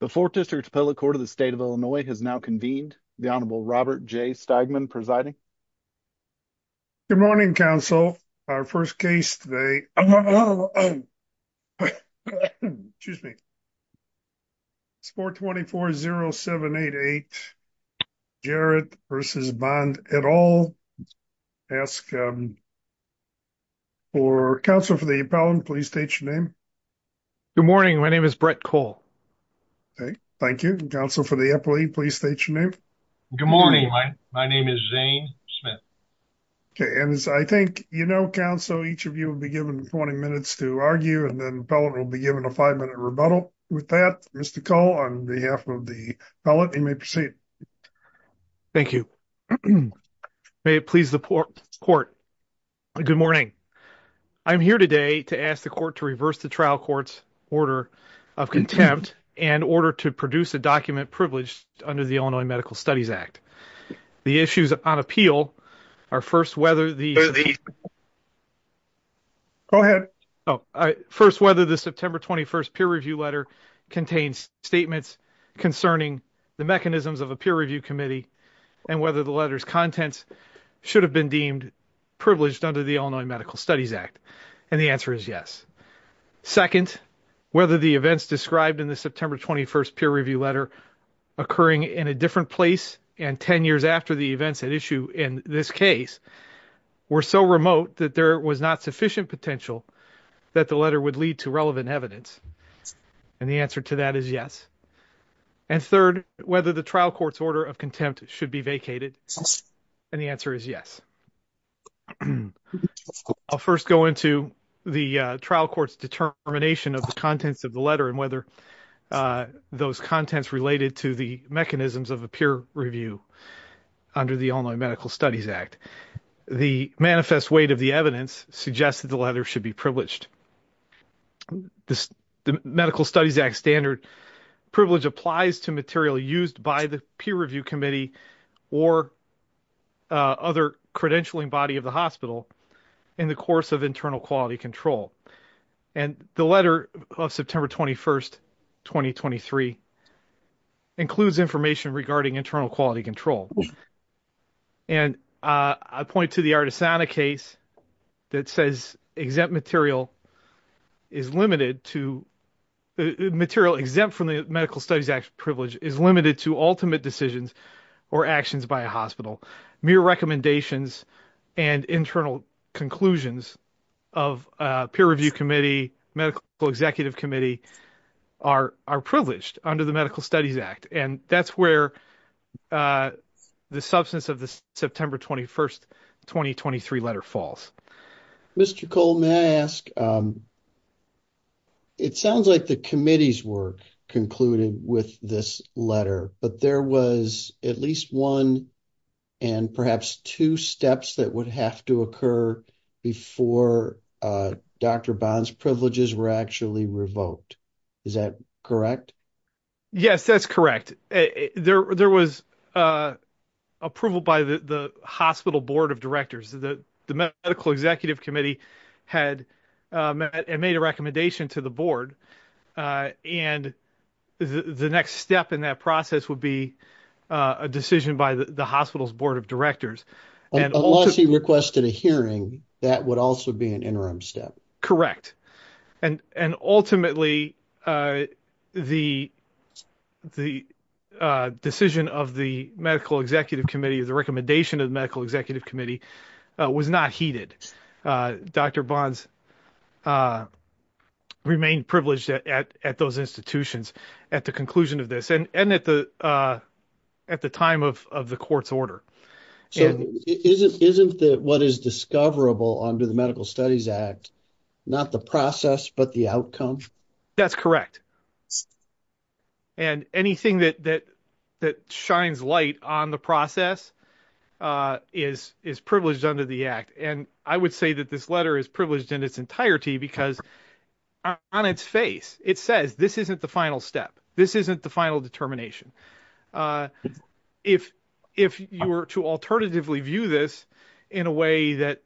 The 4th District Appellate Court of the State of Illinois has now convened. The Honorable Robert J. Stegman presiding. Good morning, counsel. Our first case today. Excuse me. It's 424-0788. Jarrett versus Bond et al. for counsel for the appellant. Please state your name. Good morning. My name is Brett Cole. Thank you. Counsel for the appellate. Please state your name. Good morning. My name is Zane Smith. Okay. And as I think, you know, counsel, each of you will be given 20 minutes to argue and then appellant will be given a five-minute rebuttal. With that, Mr. Cole, on behalf of the appellant, you may proceed. Thank you. May it please the court. Good morning. I'm here today to ask the court to reverse the trial court's order of contempt and order to produce a document privileged under the Illinois Medical Studies Act. The issues on appeal are first whether the... Go ahead. First, whether the September 21st peer review letter contains statements concerning the mechanisms of a peer review committee and whether the letter's contents should have been deemed privileged under the Illinois Medical Studies Act. And the answer is yes. Second, whether the events described in the September 21st peer review letter occurring in a different place and 10 years after the events at issue in this case were so remote that there was not sufficient potential that the letter would lead to relevant evidence. And the answer to that is yes. And third, whether the trial court's order of contempt should be vacated. And the answer is yes. I'll first go into the trial court's determination of the contents of the letter and whether those contents related to the mechanisms of a peer review under the Illinois Medical Studies Act. The manifest weight of the evidence suggests that the letter should be privileged. The Medical Studies Act standard privilege applies to material used by the peer review committee or other credentialing body of the hospital in the course of internal quality control. And the letter of September 21st, 2023 includes information regarding internal quality control. And I point to the Artisana case that says exempt material is limited to... The material exempt from the Medical Studies Act privilege is limited to ultimate decisions or actions by a hospital. Mere recommendations and internal conclusions of a peer review committee, medical executive committee are privileged under the Medical Studies Act. And that's where the substance of the September 21st, 2023 letter falls. Mr. Cole, may I ask, it sounds like the committee's work concluded with this letter, but there was at least one and perhaps two steps that would have to occur before Dr. Bond's privileges were actually revoked. Is that correct? Yes, that's correct. There was approval by the hospital board of directors that the medical executive committee had made a recommendation to the board. And the next step in that process would be a decision by the hospital's board of directors. Unless he requested a hearing, that would also be an interim step. Correct. And ultimately, the decision of the medical executive committee, the recommendation of the medical executive committee was not heeded. Dr. Bond remained privileged at those institutions at the conclusion of this and at the time of the court's order. So isn't what is discoverable under the Medical Studies Act, not the process, but the outcome? That's correct. And anything that shines light on the process is privileged under the act. And I would say that this letter is privileged in its entirety because on its face, it says this isn't the final step. This isn't the final determination. If you were to alternatively view this in a way that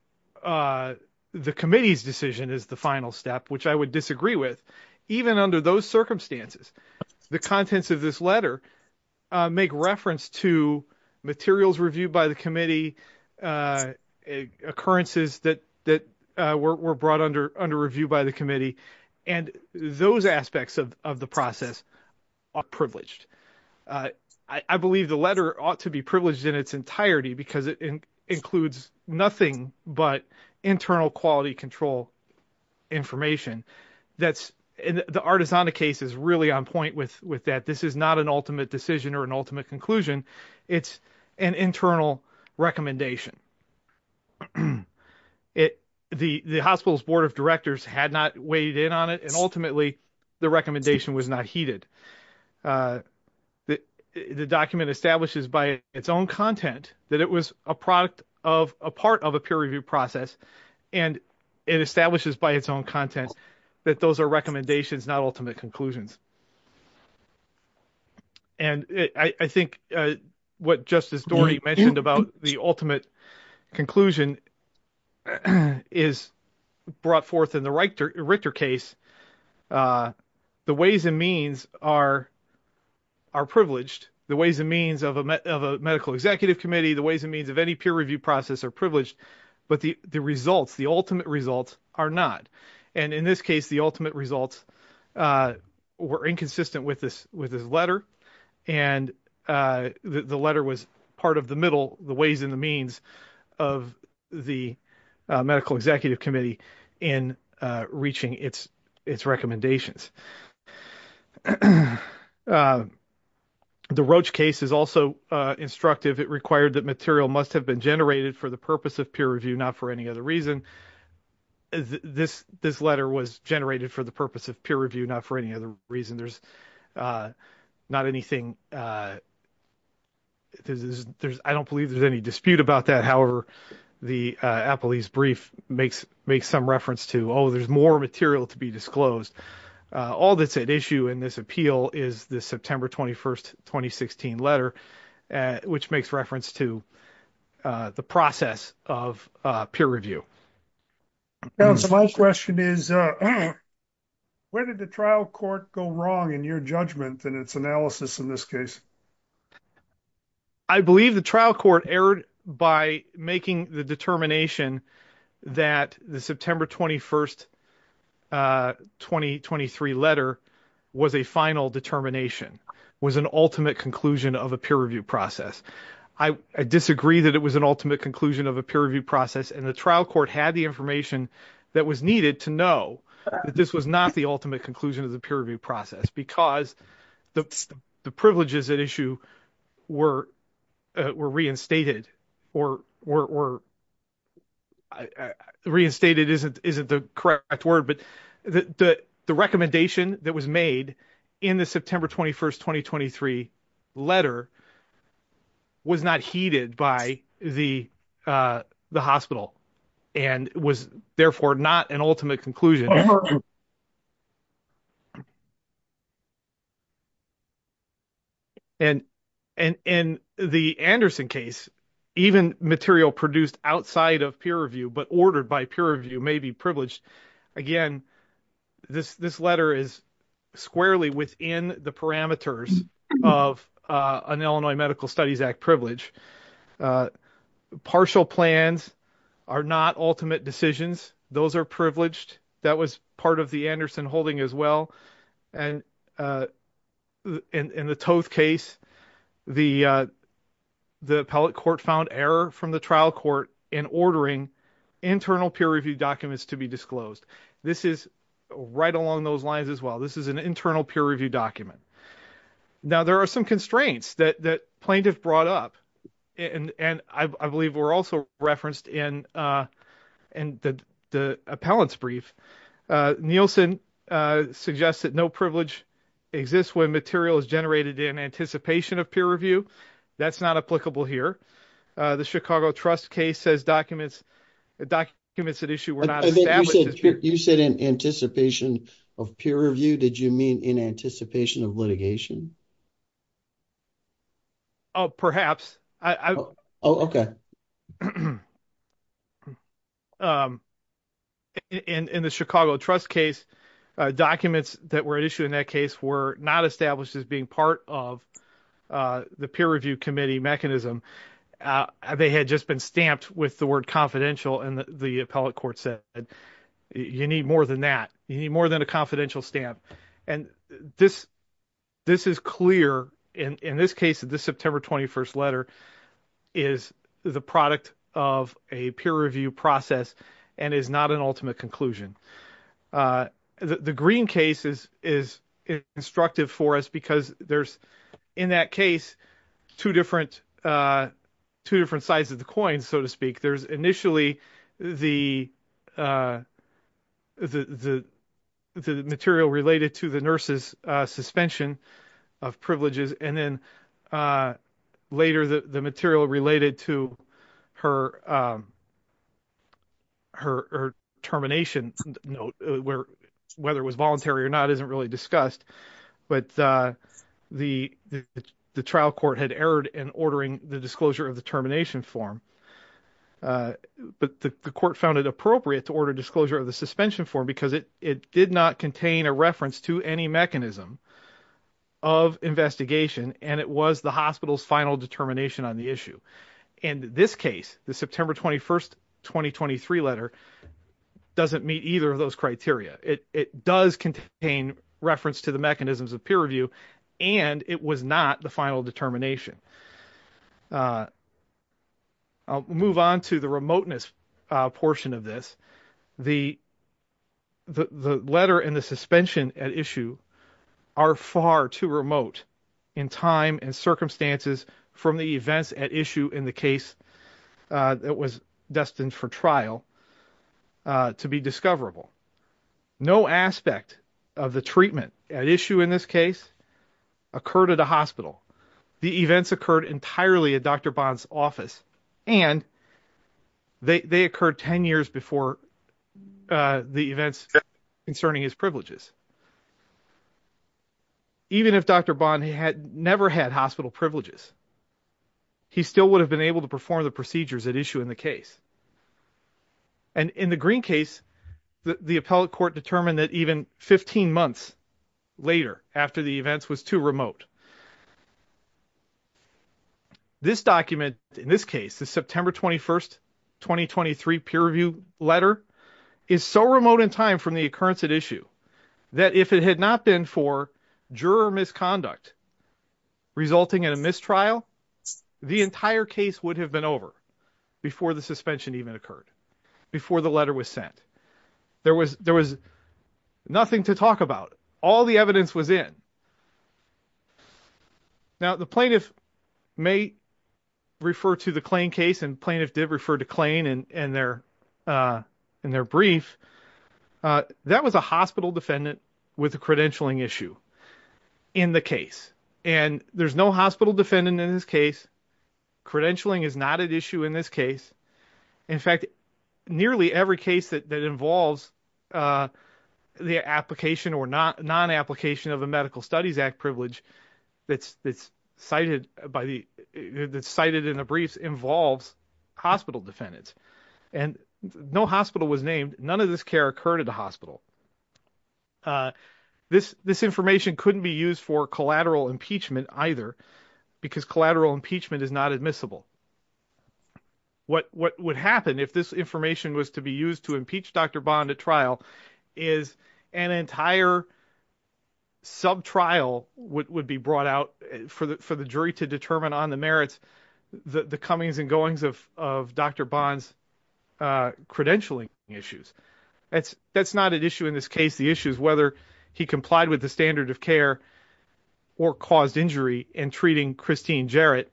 the committee's decision is the final step, which I would disagree with, even under those circumstances, the contents of this letter make reference to materials reviewed by the committee, occurrences that were brought under review by the committee. And those aspects of the process are privileged. I believe the letter ought to be privileged in its entirety because it includes nothing but internal quality control information. The Artisana case is really on point with that. This is not an ultimate decision or an ultimate conclusion. It's an internal recommendation. The hospital's board of directors had not weighed in on it, and ultimately, the recommendation was not heeded. The document establishes by its own content that it was a part of a peer review process, and it establishes by its own content that those are recommendations, not ultimate conclusions. And I think what Justice Doherty mentioned about the ultimate conclusion is brought forth in the Richter case. The ways and means are privileged. The ways and any peer review process are privileged, but the results, the ultimate results are not. And in this case, the ultimate results were inconsistent with this letter, and the letter was part of the middle, the ways and the means of the medical executive committee in reaching its recommendations. The Roche case is also instructive. It required that material must have been generated for the purpose of peer review, not for any other reason. This letter was generated for the purpose of peer review, not for any other reason. There's not anything. I don't believe there's any dispute about that. However, the Apolis brief makes some reference to, oh, there's more material to be All that's at issue in this appeal is the September 21st, 2016 letter, which makes reference to the process of peer review. My question is, where did the trial court go wrong in your judgment in its analysis in this case? I believe the trial court erred by making the determination that the September 21st, 2023 letter was a final determination, was an ultimate conclusion of a peer review process. I disagree that it was an ultimate conclusion of a peer review process, and the trial court had the information that was needed to know that this was not the ultimate conclusion of the peer review But the recommendation that was made in the September 21st, 2023 letter was not heeded by the hospital and was therefore not an ultimate conclusion. And in the Anderson case, even material produced outside of peer review, but ordered by peer review, may be privileged. Again, this letter is squarely within the parameters of an Illinois Medical Studies Act privilege. Partial plans are not ultimate decisions. Those are privileged. That was part of the Anderson holding as well. And in the Toth case, the appellate court found error from the trial court in ordering internal peer review documents to be disclosed. This is right along those lines as well. This is an internal peer review document. Now, there are some constraints that plaintiff brought up, and I believe were also referenced in the appellate's brief. Nielsen suggests that no privilege exists when material is generated in anticipation of peer review. That's not applicable here. The Chicago Trust case says documents at issue were not established. You said in anticipation of peer review. Did you mean in anticipation of litigation? Oh, perhaps. Oh, okay. In the Chicago Trust case, documents that were issued in that case were not established as being part of the peer review committee mechanism. They had just been stamped with the word confidential, and the appellate court said, you need more than that. You need more than a confidential stamp. And this is clear. In this case, this September 21st letter is the product of a peer review process and is not an ultimate conclusion. The Green case is instructive for us because there's, in that case, two different sides of the coin, so to speak. There's initially the material related to the nurse's suspension of privileges, and then later the material related to her termination, whether it was voluntary or not isn't really discussed. But the trial court had erred in ordering the disclosure of the termination form. But the court found it appropriate to order disclosure of the suspension form because it did not contain a reference to any mechanism of investigation, and it was the hospital's final determination on the issue. In this case, the September 21st, 2023 letter doesn't meet either of those criteria. It does contain reference to the mechanisms of peer review, and it was not the final determination. I'll move on to the remoteness portion of this. The letter and the suspension at issue are far too remote in time and circumstances from the events at issue in the case that was destined for trial to be discoverable. No aspect of the treatment at issue in this case occurred at a hospital. The events occurred entirely at Dr. Bond's office, and they occurred 10 years before the events concerning his privileges. Even if Dr. Bond had never had hospital privileges, he still would have been able to perform the procedures at issue in the case. And in the Green case, the appellate court determined that even 15 months later after the events was too remote. This document, in this case, the September 21st, 2023 peer review letter, is so remote in time from the occurrence at issue that if it had not been for juror misconduct resulting in a mistrial, the entire case would have been over before the suspension even occurred, before the letter was sent. There was nothing to talk about. All the evidence was in. Now, the plaintiff may refer to the Klain case, and plaintiff did refer to Klain in their brief. That was a hospital defendant with a credentialing issue in the case. And there's no hospital defendant in this case. Credentialing is not at issue in this case. In fact, nearly every case that involves the application or non-application of a medical studies act privilege that's cited in the briefs involves hospital defendants. And no hospital was named. None of this care occurred at the hospital. This information couldn't be used for collateral impeachment either, because collateral impeachment is not admissible. What would happen if this information was to be used to impeach Dr. Bond at trial is an entire sub-trial would be brought out for the jury to determine on the merits the comings and goings of Dr. Bond's credentialing issues. That's not at issue in this case. The issue is whether he complied with the standard of care or caused injury in treating Christine Jarrett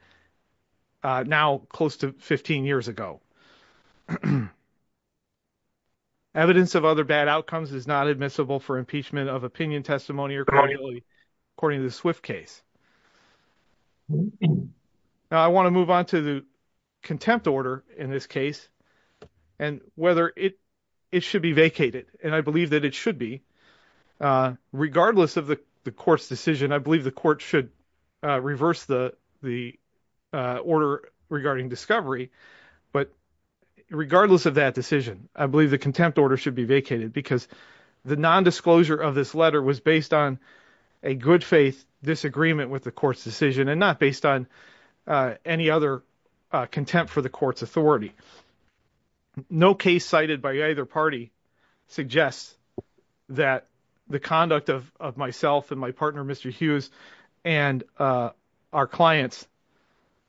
now close to 15 years ago. Evidence of other bad outcomes is not admissible for impeachment of opinion testimony accordingly according to the Swift case. Now, I want to move on to the contempt order in this case and whether it should be vacated. And I believe that it should be. Regardless of the court's decision, I believe the court should reverse the order regarding discovery. But regardless of that decision, I believe the contempt order should be vacated because the nondisclosure of this letter was based on a good faith disagreement with the court's decision and not based on any other contempt for the court's authority. No case cited by either party suggests that the conduct of myself and my partner, Mr. Hughes, and our clients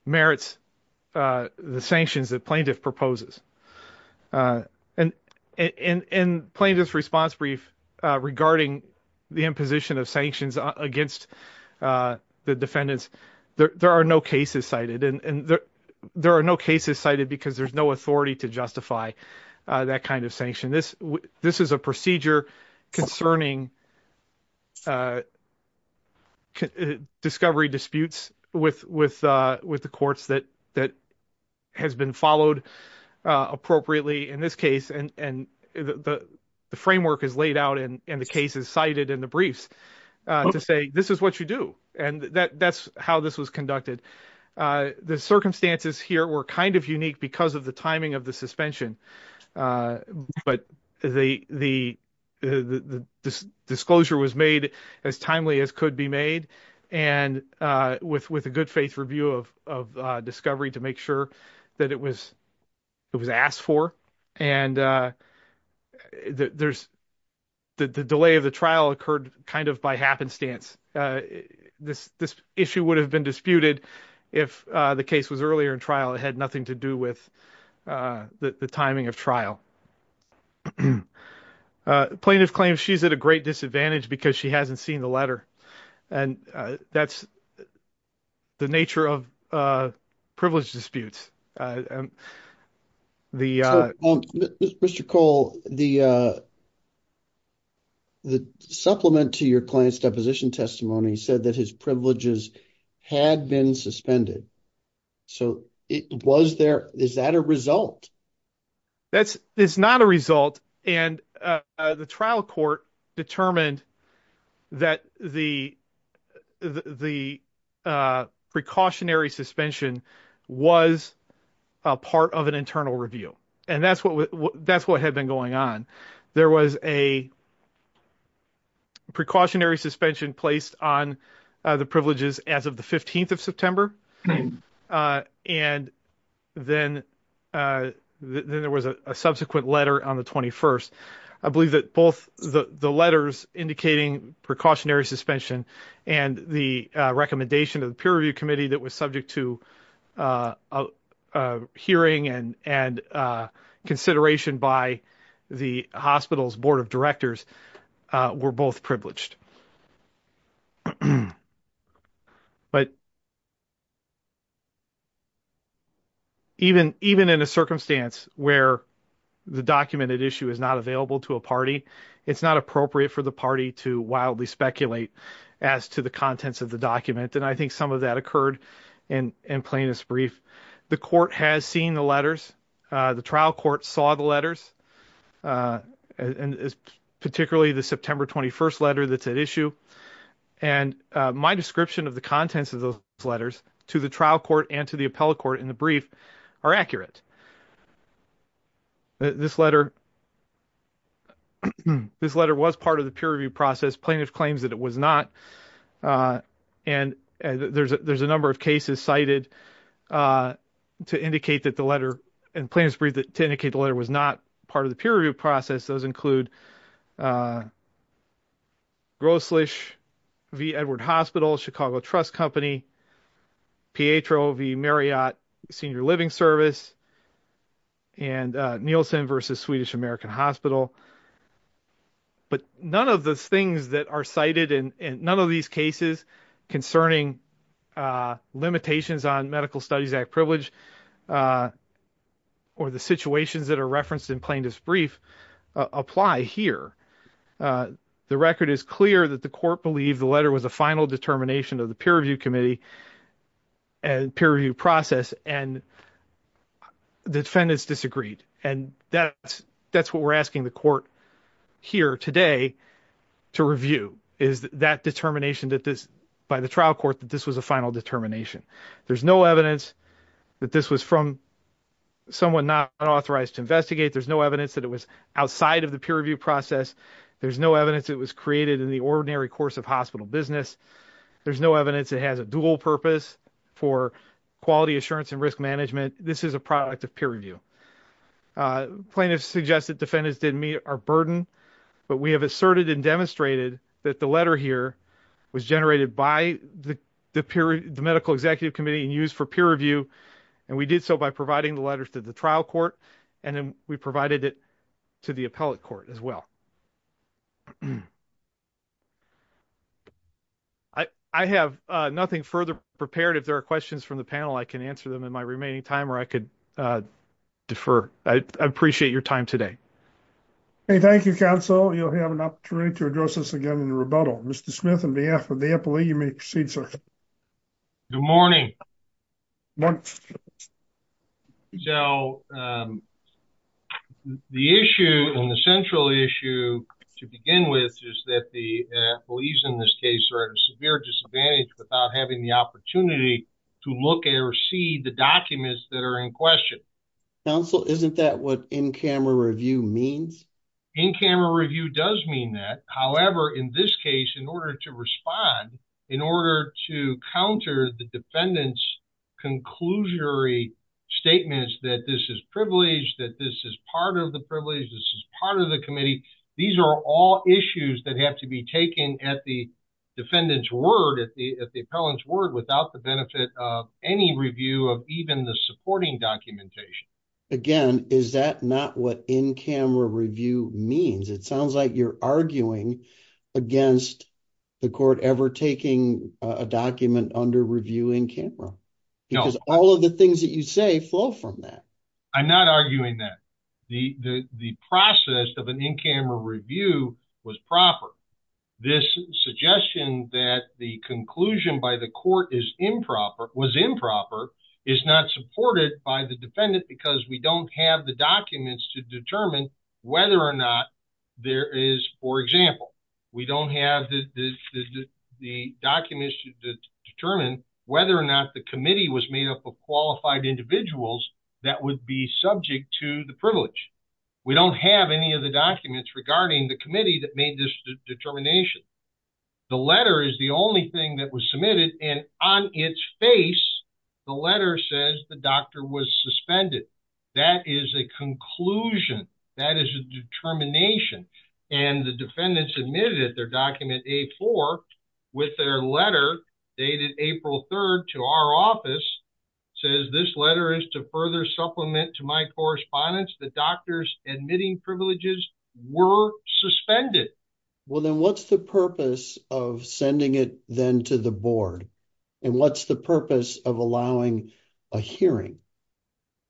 merits the sanctions that plaintiff proposes. And in plaintiff's response brief regarding the imposition of sanctions against the defendants, there are no cases cited. And there are no cases cited because there's no authority to justify that kind of sanction. This is a procedure concerning discovery disputes with the courts that has been followed appropriately in this case. And the framework is laid out and the case is cited in the briefs to say, this is what you do. And that's how this was conducted. The circumstances here were kind of unique because of the timing of the suspension. But the disclosure was made as timely as could be made with a good faith review of discovery to make sure that it was asked for. And the delay of the trial occurred kind of by happenstance. This issue would have been disputed if the case was earlier in trial. It had nothing to do with the timing of trial. Plaintiff claims she's at a great disadvantage because she hasn't seen the letter. And that's the nature of privilege disputes. Mr. Cole, the supplement to your client's deposition testimony said that his privileges had been suspended. So is that a result? That's not a result. And the trial court determined that the precautionary suspension was a part of an internal review. And that's what had been going on. There was a precautionary suspension placed on the privileges as of the 15th of September. And then there was a subsequent letter on the 21st. I believe that both the letters indicating precautionary suspension and the recommendation of the peer review committee that was subject to hearing and consideration by the hospital's board of directors were both distinguished. But even in a circumstance where the documented issue is not available to a party, it's not appropriate for the party to wildly speculate as to the contents of the document. And I think some of that occurred in plaintiff's brief. The court has seen the letters. The trial that's at issue. And my description of the contents of those letters to the trial court and to the appellate court in the brief are accurate. This letter was part of the peer review process. Plaintiff claims that it was not. And there's a number of cases cited to indicate that the letter, in plaintiff's brief, to indicate the letter was not part of the peer review process. Those include Grosslich v. Edward Hospital, Chicago Trust Company, Pietro v. Marriott Senior Living Service, and Nielsen v. Swedish American Hospital. But none of those things that are cited in none of these cases concerning limitations on Medical Studies Act privilege or the situations that are referenced in plaintiff's brief apply here. The record is clear that the court believed the letter was a final determination of the peer review committee and peer review process, and the defendants disagreed. And that's what we're asking the court here today to review, is that determination by the trial court that this was a final determination. There's no evidence that this was from someone not authorized to investigate. There's no evidence that it was outside of the peer review process. There's no evidence it was created in the ordinary course of hospital business. There's no evidence it has a dual purpose for quality assurance and risk management. This is a product of peer review. Plaintiffs suggest that defendants didn't meet our burden, but we have asserted and demonstrated that the letter here was generated by the medical executive committee and used for peer review. And we did so by providing the letters to the trial court, and then we provided it to the appellate court as well. I have nothing further prepared. If there are questions from the panel, I can answer them in my remaining time, or I could defer. I appreciate your time today. Hey, thank you, counsel. You'll have an opportunity to address us again in the rebuttal. Mr. Smith, on behalf of the appellee, you may proceed, sir. Good morning. So, the issue, and the central issue to begin with, is that the appellees in this case are at a severe disadvantage without having the opportunity to look at or see the documents that are in question. Counsel, isn't that what in-camera review means? In-camera review does mean that. However, in this case, in order to respond, in order to counter the defendant's conclusionary statements that this is privileged, that this is part of the privilege, this is part of the committee, these are all issues that have to be taken at the defendant's word, at the appellant's word, without the benefit of any review of even the supporting documentation. Again, is that not what in-camera review means? It sounds like you're arguing against the court ever taking a document under review in-camera. No. Because all of the things that you say flow from that. I'm not arguing that. The process of an in-camera review was proper. This suggestion that the conclusion by the court is improper, was improper, is not supported by the defendant because we don't have the documents to determine whether or not there is, for example, we don't have the documents to determine whether or not the committee was made up of qualified individuals that would be subject to the privilege. We don't have any of the documents regarding the committee that made this determination. The letter is the only thing that was submitted and on its face the letter says the doctor was suspended. That is a conclusion. That is a determination. And the defendants admitted that their document A-4 with their letter dated April 3rd to our office says this letter is to supplement to my correspondence that doctors admitting privileges were suspended. Well then what's the purpose of sending it then to the board? And what's the purpose of allowing a hearing?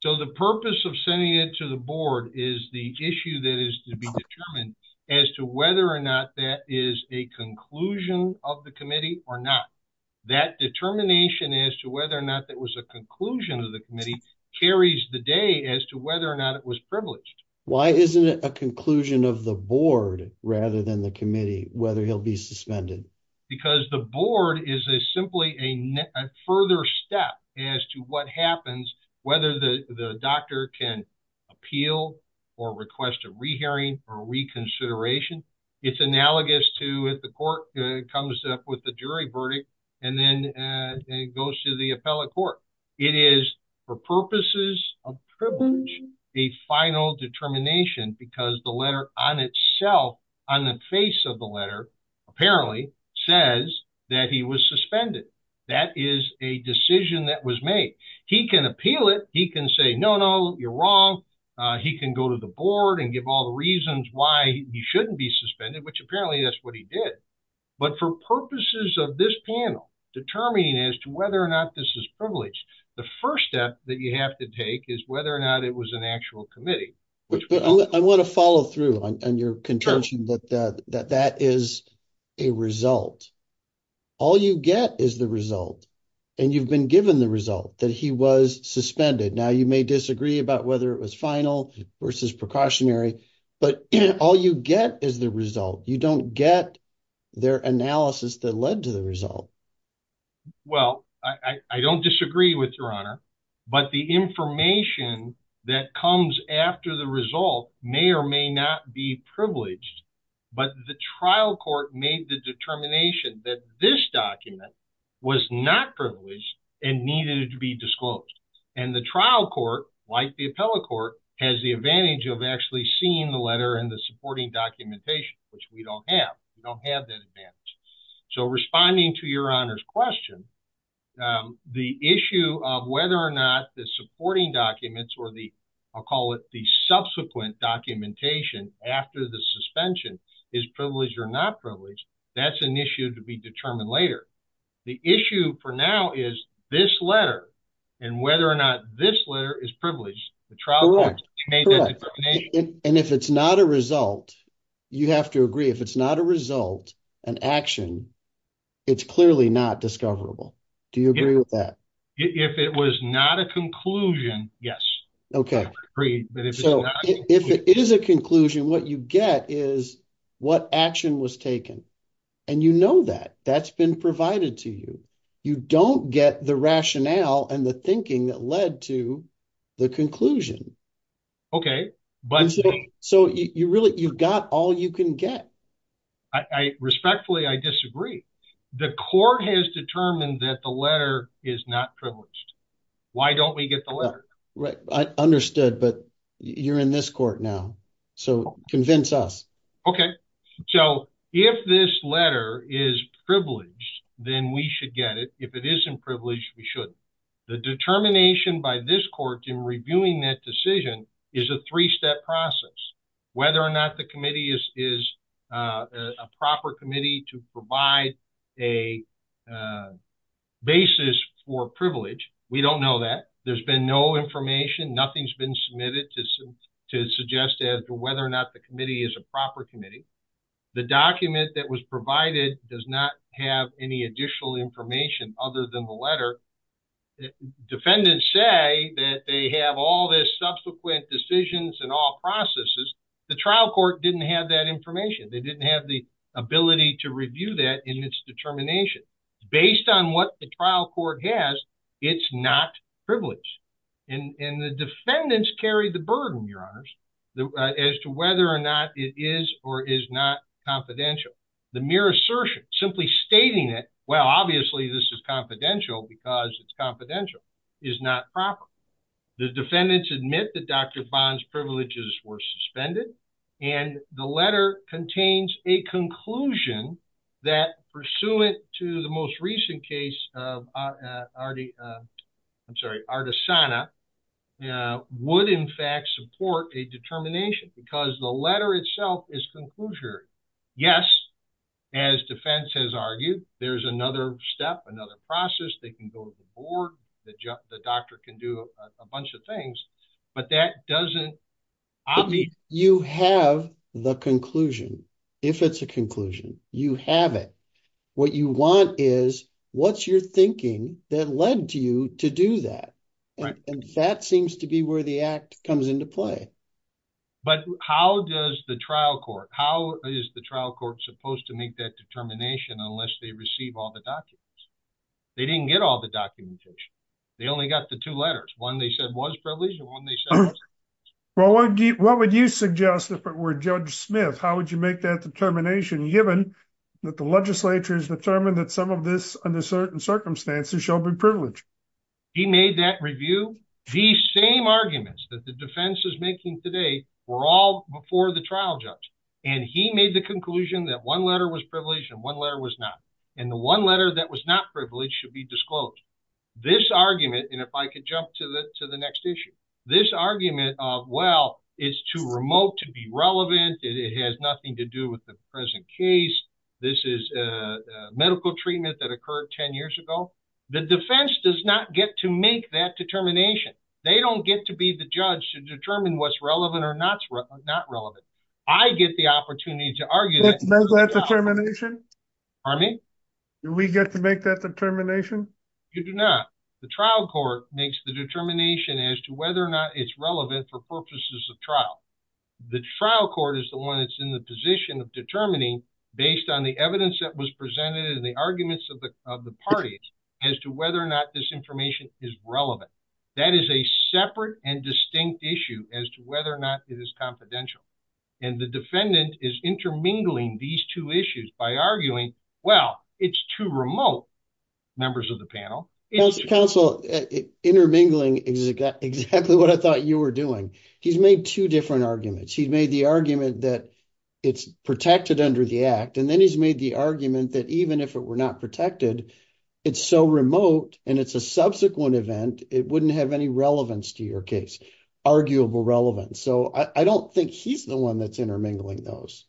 So the purpose of sending it to the board is the issue that is to be determined as to whether or not that is a conclusion of the committee or not. That determination as to whether or not that was a conclusion of the committee carries the day as to whether or not it was privileged. Why isn't it a conclusion of the board rather than the committee whether he'll be suspended? Because the board is a simply a further step as to what happens whether the doctor can appeal or request a re-hearing or reconsideration. It's analogous to if the court comes up with the jury verdict and then it goes to the appellate court. It is for purposes of privilege a final determination because the letter on itself on the face of the letter apparently says that he was suspended. That is a decision that was made. He can appeal it. He can say no no you're wrong. He can go to the board and give all the reasons why he shouldn't be suspended which apparently that's what he did. But for purposes of this panel determining as to whether or not this is privileged the first step that you have to take is whether or not it was an actual committee. I want to follow through on your contention that that is a result. All you get is the result and you've been given the result that he was suspended. Now you may disagree about whether it was final versus precautionary but all you get is the result. You don't get their analysis that led to the result. Well I don't disagree with your honor but the information that comes after the result may or may not be privileged but the trial court made the determination that this document was not privileged and needed to be disclosed and the trial court like the appellate court has the advantage of actually seeing the letter and the supporting documentation which we don't have. We don't have that advantage. So responding to your honor's question the issue of whether or not the supporting documents or the I'll call it the subsequent documentation after the suspension is privileged or not privileged that's an issue to be determined later. The issue for now is this letter and whether or not this letter is privileged. And if it's not a result you have to agree if it's not a result an action it's clearly not discoverable. Do you agree with that? If it was not a conclusion yes. Okay so if it is a conclusion what you get is what action was taken and you know that that's been provided to you. You don't get the rationale and the thinking that led to the conclusion. Okay but so you really you've got all you can get. I respectfully I disagree. The court has determined that the letter is not privileged. Why don't we get the letter? Right I understood but you're in this court now so convince us. Okay so if this letter is privileged then we should get it. If it isn't privileged we shouldn't. The determination by this court in reviewing that decision is a three-step process whether or not the committee is a proper committee to provide a basis for privilege. We don't know that. There's been no information nothing's been submitted to suggest as to whether or not the committee is a proper committee. The document that was provided does not have any additional information other than the letter. Defendants say that they have all this subsequent decisions and all processes. The trial court didn't have that information. They didn't have the ability to review that in its determination. Based on what the trial court has it's not privileged and and the defendants carry the burden your honors as to whether or not it is or is not confidential. The mere assertion simply stating it well obviously this is confidential because it's confidential is not proper. The defendants admit that Dr. Bond's privileges were suspended and the letter contains a conclusion that pursuant to the most recent case of Artisana would in fact support a determination because the letter itself is conclusive. Yes as defense has argued there's another step another process they can go to the board the doctor can do a bunch of things but that doesn't you have the conclusion if it's a conclusion you have it what you want is what's your thinking that led you to do that and that seems to be where the act comes into play but how does the trial court how is the trial court supposed to make that determination unless they receive all the documents they didn't get all the documentation they only got the two letters one they said was privileged and one they said well what would you suggest if it were judge smith how would you make that determination given that the legislature has determined that some of this under certain circumstances shall be privileged he made that review these same arguments that the defense is making today were all before the trial judge and he made the conclusion that one letter was privileged and one letter was not and the one letter that was not privileged should be disclosed this argument and if i could jump to the to the next issue this argument of well it's too remote to be relevant it has nothing to do with the present case this is a medical treatment that occurred 10 years ago the defense does not get to make that determination they don't get to be the judge to determine what's relevant or not not relevant i get the opportunity to argue that pardon me do we get to make that determination you do not the trial court makes the determination as to whether or not it's relevant for purposes of trial the trial court is the one that's in the position of determining based on the evidence that was presented and the arguments of the of the parties as to whether or not this information is relevant that is a separate and distinct issue as to whether or not it is confidential and the defendant is intermingling these two issues by arguing well it's too remote members of the panel council intermingling exactly what i thought you were doing he's made two different arguments he's made the argument that it's protected under the act and then he's made the argument that even if it were not protected it's so remote and it's a event it wouldn't have any relevance to your case arguable relevance so i i don't think he's the one that's intermingling those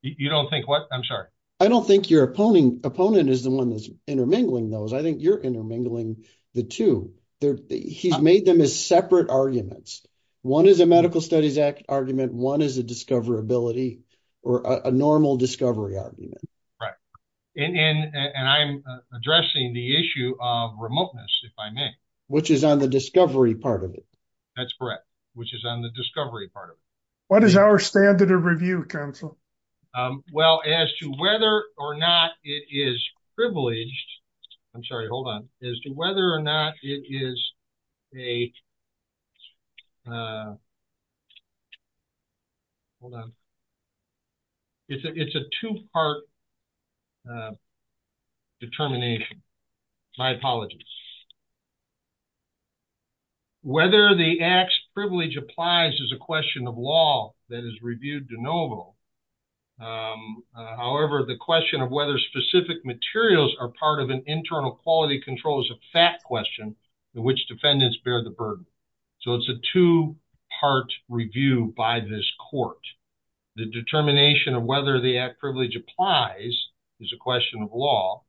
you don't think what i'm sorry i don't think your opponent opponent is the one that's intermingling those i think you're intermingling the two they're he's made them as separate arguments one is a medical studies act argument one is a discoverability or a normal discovery argument right and and and i'm addressing the issue of remoteness if i may which is on the discovery part of it that's correct which is on the discovery part of it what is our standard of review counsel um well as to whether or not it is privileged i'm sorry hold on as to whether or not it is a uh hold on it's a it's a two-part uh determination my apologies whether the act's privilege applies is a question of law that is reviewed de novo however the question of whether specific materials are part of an internal quality control is a fact question in which defendants bear the burden so it's a two-part review by this court the determination of whether the act privilege applies is a question of law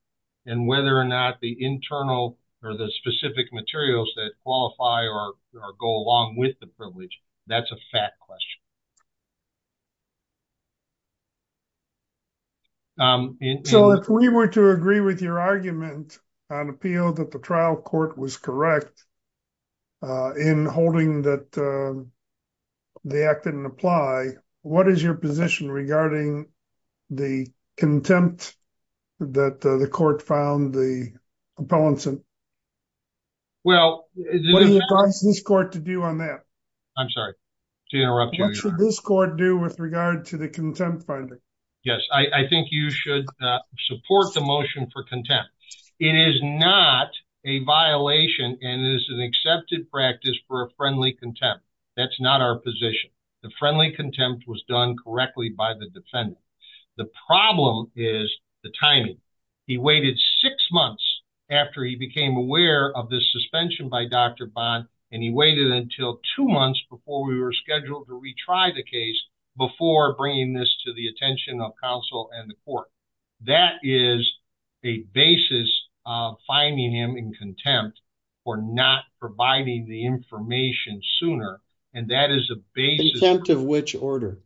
and whether or not the internal or the specific materials that qualify or go along with the that's a fact question um so if we were to agree with your argument on appeal that the trial court was correct uh in holding that the act didn't apply what is your position regarding the contempt that the court found the opponents and well what do you advise this court to do on that i'm sorry to interrupt what should this court do with regard to the contempt finding yes i i think you should support the motion for contempt it is not a violation and it is an accepted practice for a friendly contempt that's not our position the friendly contempt was done he waited six months after he became aware of this suspension by dr bond and he waited until two months before we were scheduled to retry the case before bringing this to the attention of counsel and the court that is a basis of finding him in contempt for not providing the information sooner and that is a base contempt of which order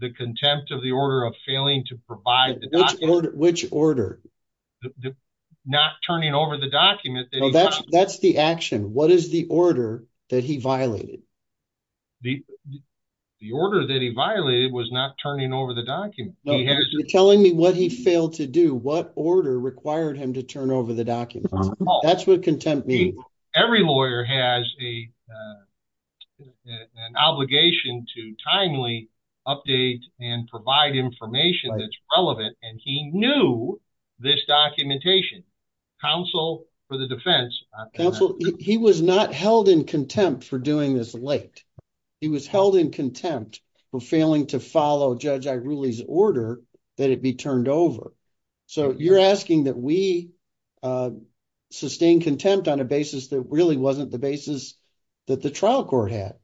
the contempt of the order of failing to provide which order not turning over the document that's that's the action what is the order that he violated the the order that he violated was not turning over the document telling me what he failed to do what order required him to turn over the documents that's what contempt means every lawyer has a uh an obligation to timely update and provide information that's relevant and he knew this documentation counsel for the defense counsel he was not held in contempt for doing this late he was held in contempt for failing to follow judge i really's order that it be turned over so you're asking that we uh sustain contempt on a basis that really wasn't the basis that the trial court had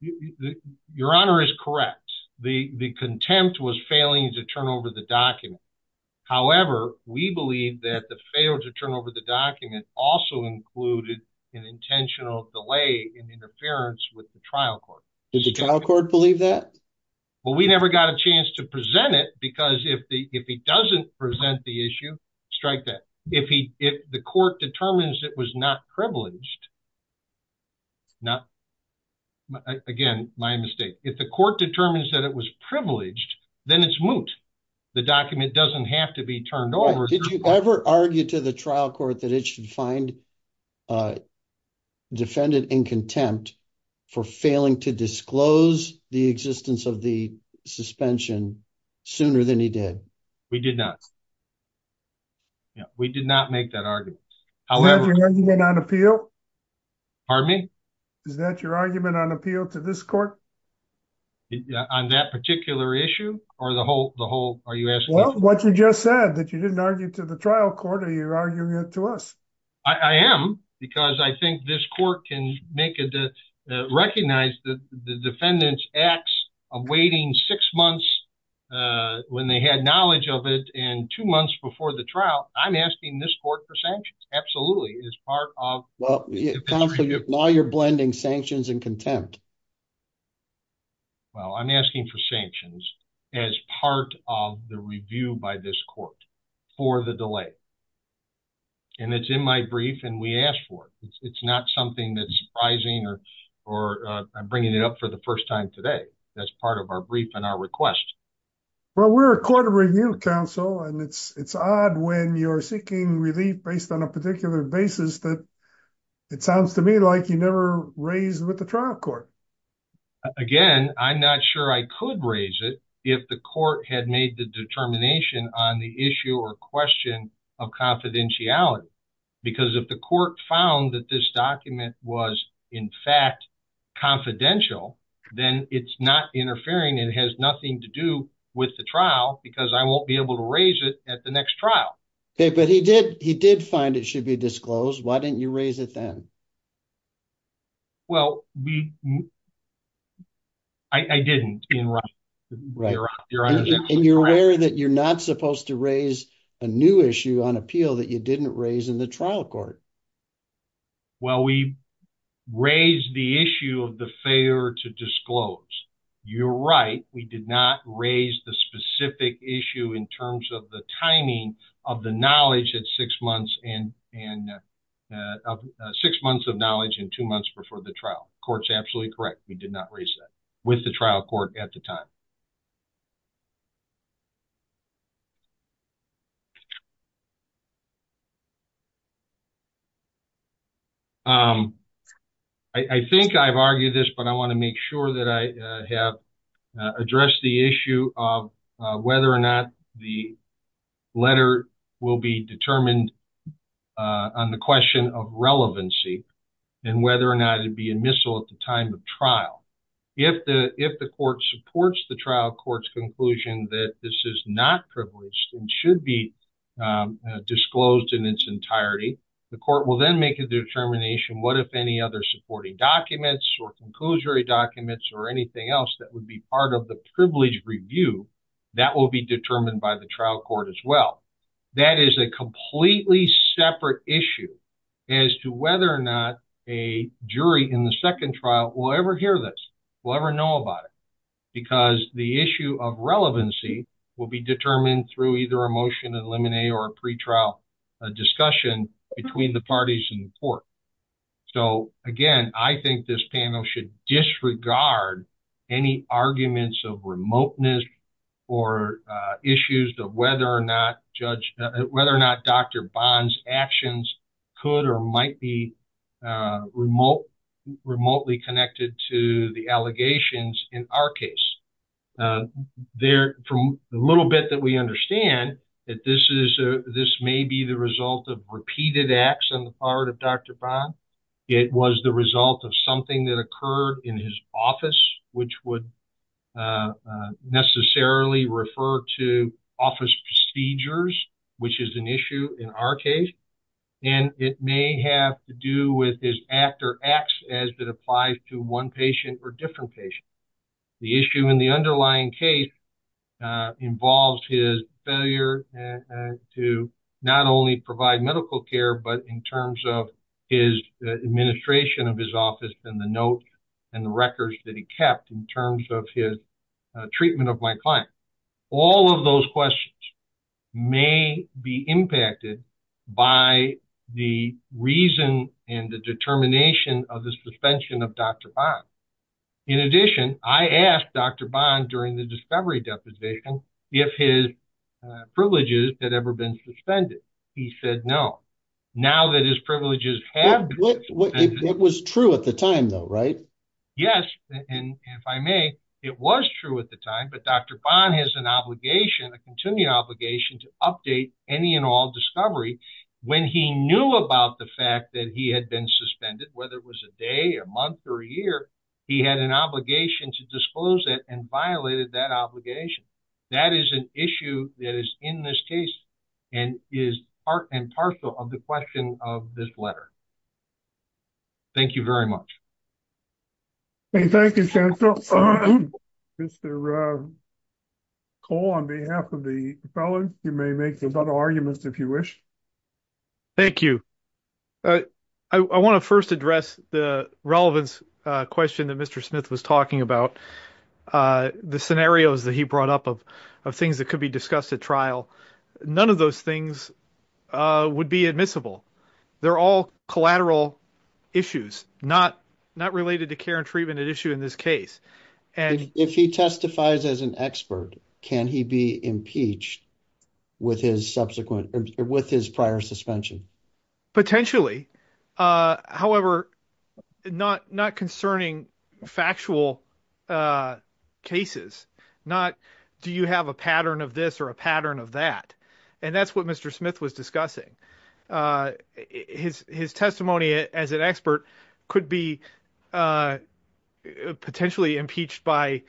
you the your honor is correct the the contempt was failing to turn over the document however we believe that the fail to turn over the document also included an intentional delay in interference with the trial court does the trial court believe that well we never got a chance to present it because if the if he doesn't present the issue strike that if he if the court determines it was not privileged not again my mistake if the court determines that it was privileged then it's moot the document doesn't have to be turned over did you ever argue to the trial court that it should find uh defendant in contempt for failing to disclose the existence of the suspension sooner than he did we did not yeah we did not make that argument however pardon me is that your argument on appeal to this court on that particular issue or the whole the whole are you asking what you just said that you didn't argue to the trial court are you arguing it i am because i think this court can make it to recognize that the defendant's acts awaiting six months uh when they had knowledge of it and two months before the trial i'm asking this court for sanctions absolutely as part of well now you're blending sanctions and contempt well i'm asking for sanctions as part of the review by this court for the delay and it's in my brief and we asked for it it's not something that's surprising or or uh i'm bringing it up for the first time today that's part of our brief and our request well we're a court of review council and it's it's odd when you're seeking relief based on a particular basis that it sounds to me like you never raised with the trial court again i'm not sure i could raise it if the court had made the determination on the issue or question of confidentiality because if the court found that this document was in fact confidential then it's not interfering it has nothing to do with the trial because i won't be able to raise it at the next trial okay but he did he did find it should be disclosed why didn't you raise it then well we i i didn't in right right you're right and you're aware that you're not supposed to raise a new issue on appeal that you didn't raise in the trial court well we raised the issue of the failure to disclose you're right we did not raise the specific issue in terms of the timing of the knowledge at six months and and uh six months of knowledge in two months before the trial court's absolutely correct we did not raise that with the trial court at the time um i think i've argued this but i want to make sure that i have addressed the issue of whether or not the letter will be determined on the question of relevancy and whether or not it'd be a missile at the time of trial if the if the court supports the trial court's conclusion that this is not privileged and should be disclosed in its entirety the court will then make a determination what if any other supporting documents or conclusory documents or anything else that would be part of the privileged review that will be determined by the trial court as well that is a completely separate issue as to whether or not a jury in the second trial will ever hear this will ever know about it because the issue of relevancy will be determined through either a motion to eliminate or a pre-trial discussion between the parties in the court so again i think this panel should disregard any arguments of remoteness or issues of whether or not judge whether or not dr bond's actions could or might be uh remote remotely connected to the allegations in our case uh there from the little bit that we understand that this is this may be the result of repeated acts on the part of dr bond it was the result of something that occurred in his office which would necessarily refer to office procedures which is an issue in our case and it may have to do with his actor acts as that applies to one patient or different patient the issue in the underlying case involves his failure to not only provide medical care but in terms of his administration of his office and the notes and the records that he kept in terms of his treatment of my client all of those questions may be impacted by the reason and the determination of the suspension of dr bond in addition i asked dr bond during the discovery deposition if his privileges had ever been suspended he said no now that his privileges have it was true at the time though right yes and if i may it was true at the time but dr bond has an obligation a continuing obligation to update any and all discovery when he knew about the fact that he had been suspended whether it was a day a month or a year he had an obligation to disclose it and violated that obligation that is an issue that is in this case and is part and partial of the question of this letter thank you very much thank you chancellor mr uh call on behalf of the felon you may make some other arguments if you wish thank you i i want to first address the relevance uh question that mr smith was talking about uh the scenarios that he brought up of of things that could be discussed at trial none of those things uh would be admissible they're all collateral issues not not related to care and treatment at issue in this case and if he testifies as an expert can he be impeached with his subsequent with his prior suspension potentially uh however not not concerning factual uh cases not do you have a pattern of this or a pattern of that and that's what mr smith was discussing uh his his testimony as an expert could be uh potentially impeached by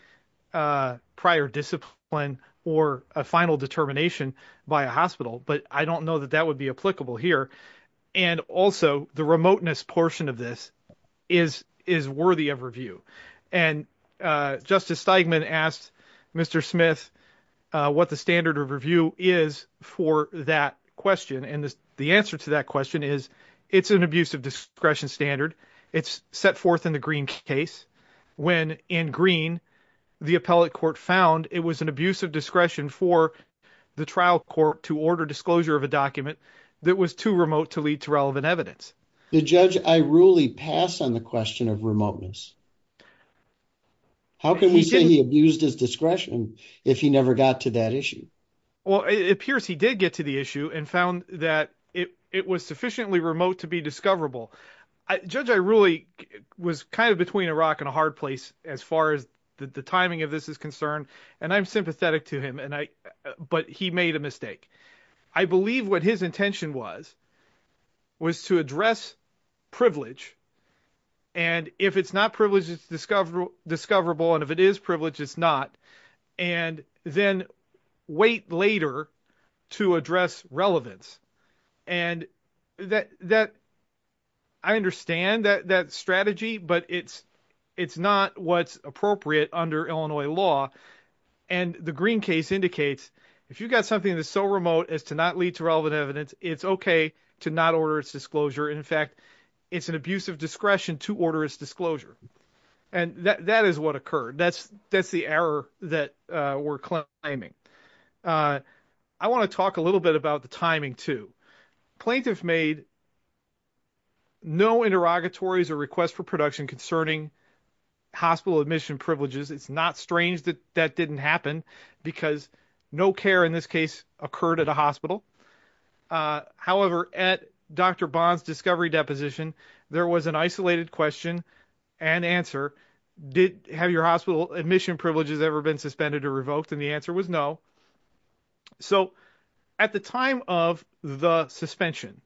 uh prior discipline or a final determination by a hospital but i don't know that that would be applicable here and also the remoteness portion of this is is worthy of review and uh justice steigman asked mr smith uh what the standard of is for that question and the answer to that question is it's an abuse of discretion standard it's set forth in the green case when in green the appellate court found it was an abuse of discretion for the trial court to order disclosure of a document that was too remote to lead to relevant evidence the judge i really pass on the question of remoteness how can we say he abused his discretion if he never got to that issue well it appears he did get to the issue and found that it it was sufficiently remote to be discoverable i judge i really was kind of between a rock and a hard place as far as the timing of this is concerned and i'm sympathetic to him and i but he made a mistake i believe what his intention was was to address privilege and if it's not privileged it's discoverable discoverable and if it is privileged it's not and then wait later to address relevance and that that i understand that that strategy but it's it's not what's appropriate under illinois law and the green case indicates if you got something that's so remote as to not lead to relevant evidence it's okay to not order its disclosure in fact it's an abuse of discretion to order its disclosure and that that is what occurred that's that's the error that uh we're climbing uh i want to talk a little bit about the timing too plaintiff made no interrogatories or requests for production concerning hospital admission privileges it's not strange that that didn't happen because no care in this case occurred at a hospital uh however at dr bond's discovery deposition there was an isolated question and answer did have your hospital admission privileges ever been suspended or revoked and the answer was no so at the time of the suspension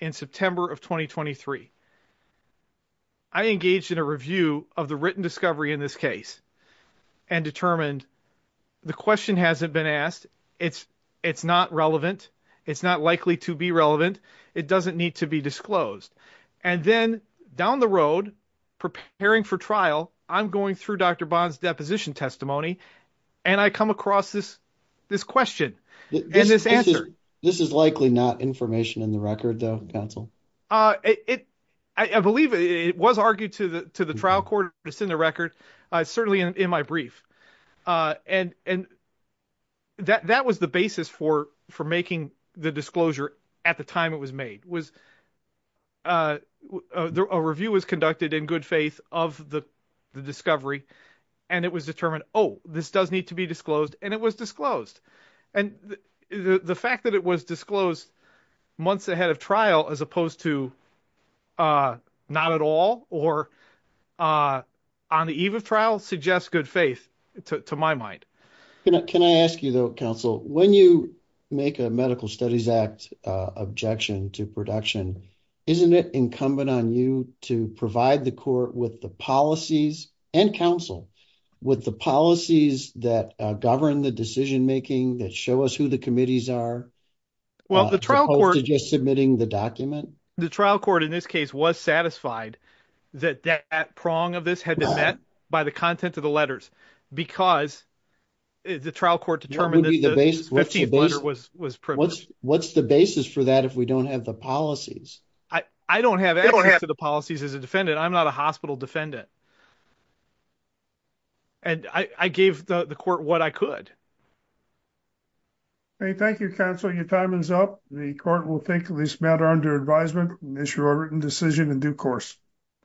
in september of 2023 i engaged in a review of the it's not likely to be relevant it doesn't need to be disclosed and then down the road preparing for trial i'm going through dr bond's deposition testimony and i come across this this question and this answer this is likely not information in the record though council uh it i believe it was argued to the to the trial court it's in the record uh certainly in my brief uh and and that that was the basis for for making the disclosure at the time it was made was uh a review was conducted in good faith of the the discovery and it was determined oh this does need to be disclosed and it was disclosed and the the fact that it was disclosed months ahead of trial as opposed to uh not at all or uh on the eve of trial suggests good faith to my mind can i ask you though counsel when you make a medical studies act uh objection to production isn't it incumbent on you to provide the court with the policies and counsel with the policies that govern the decision making that show us who the committees are well the trial court just submitting the document the trial court in this case was satisfied that that prong of this had been met by the content of the letters because the trial court determined that the base was was what's the basis for that if we don't have the policies i i don't have access to the policies as a defendant i'm not a hospital defendant and i i gave the the court what i could hey thank you counsel your time is up the court will think of this matter under advisement issue a written decision in due course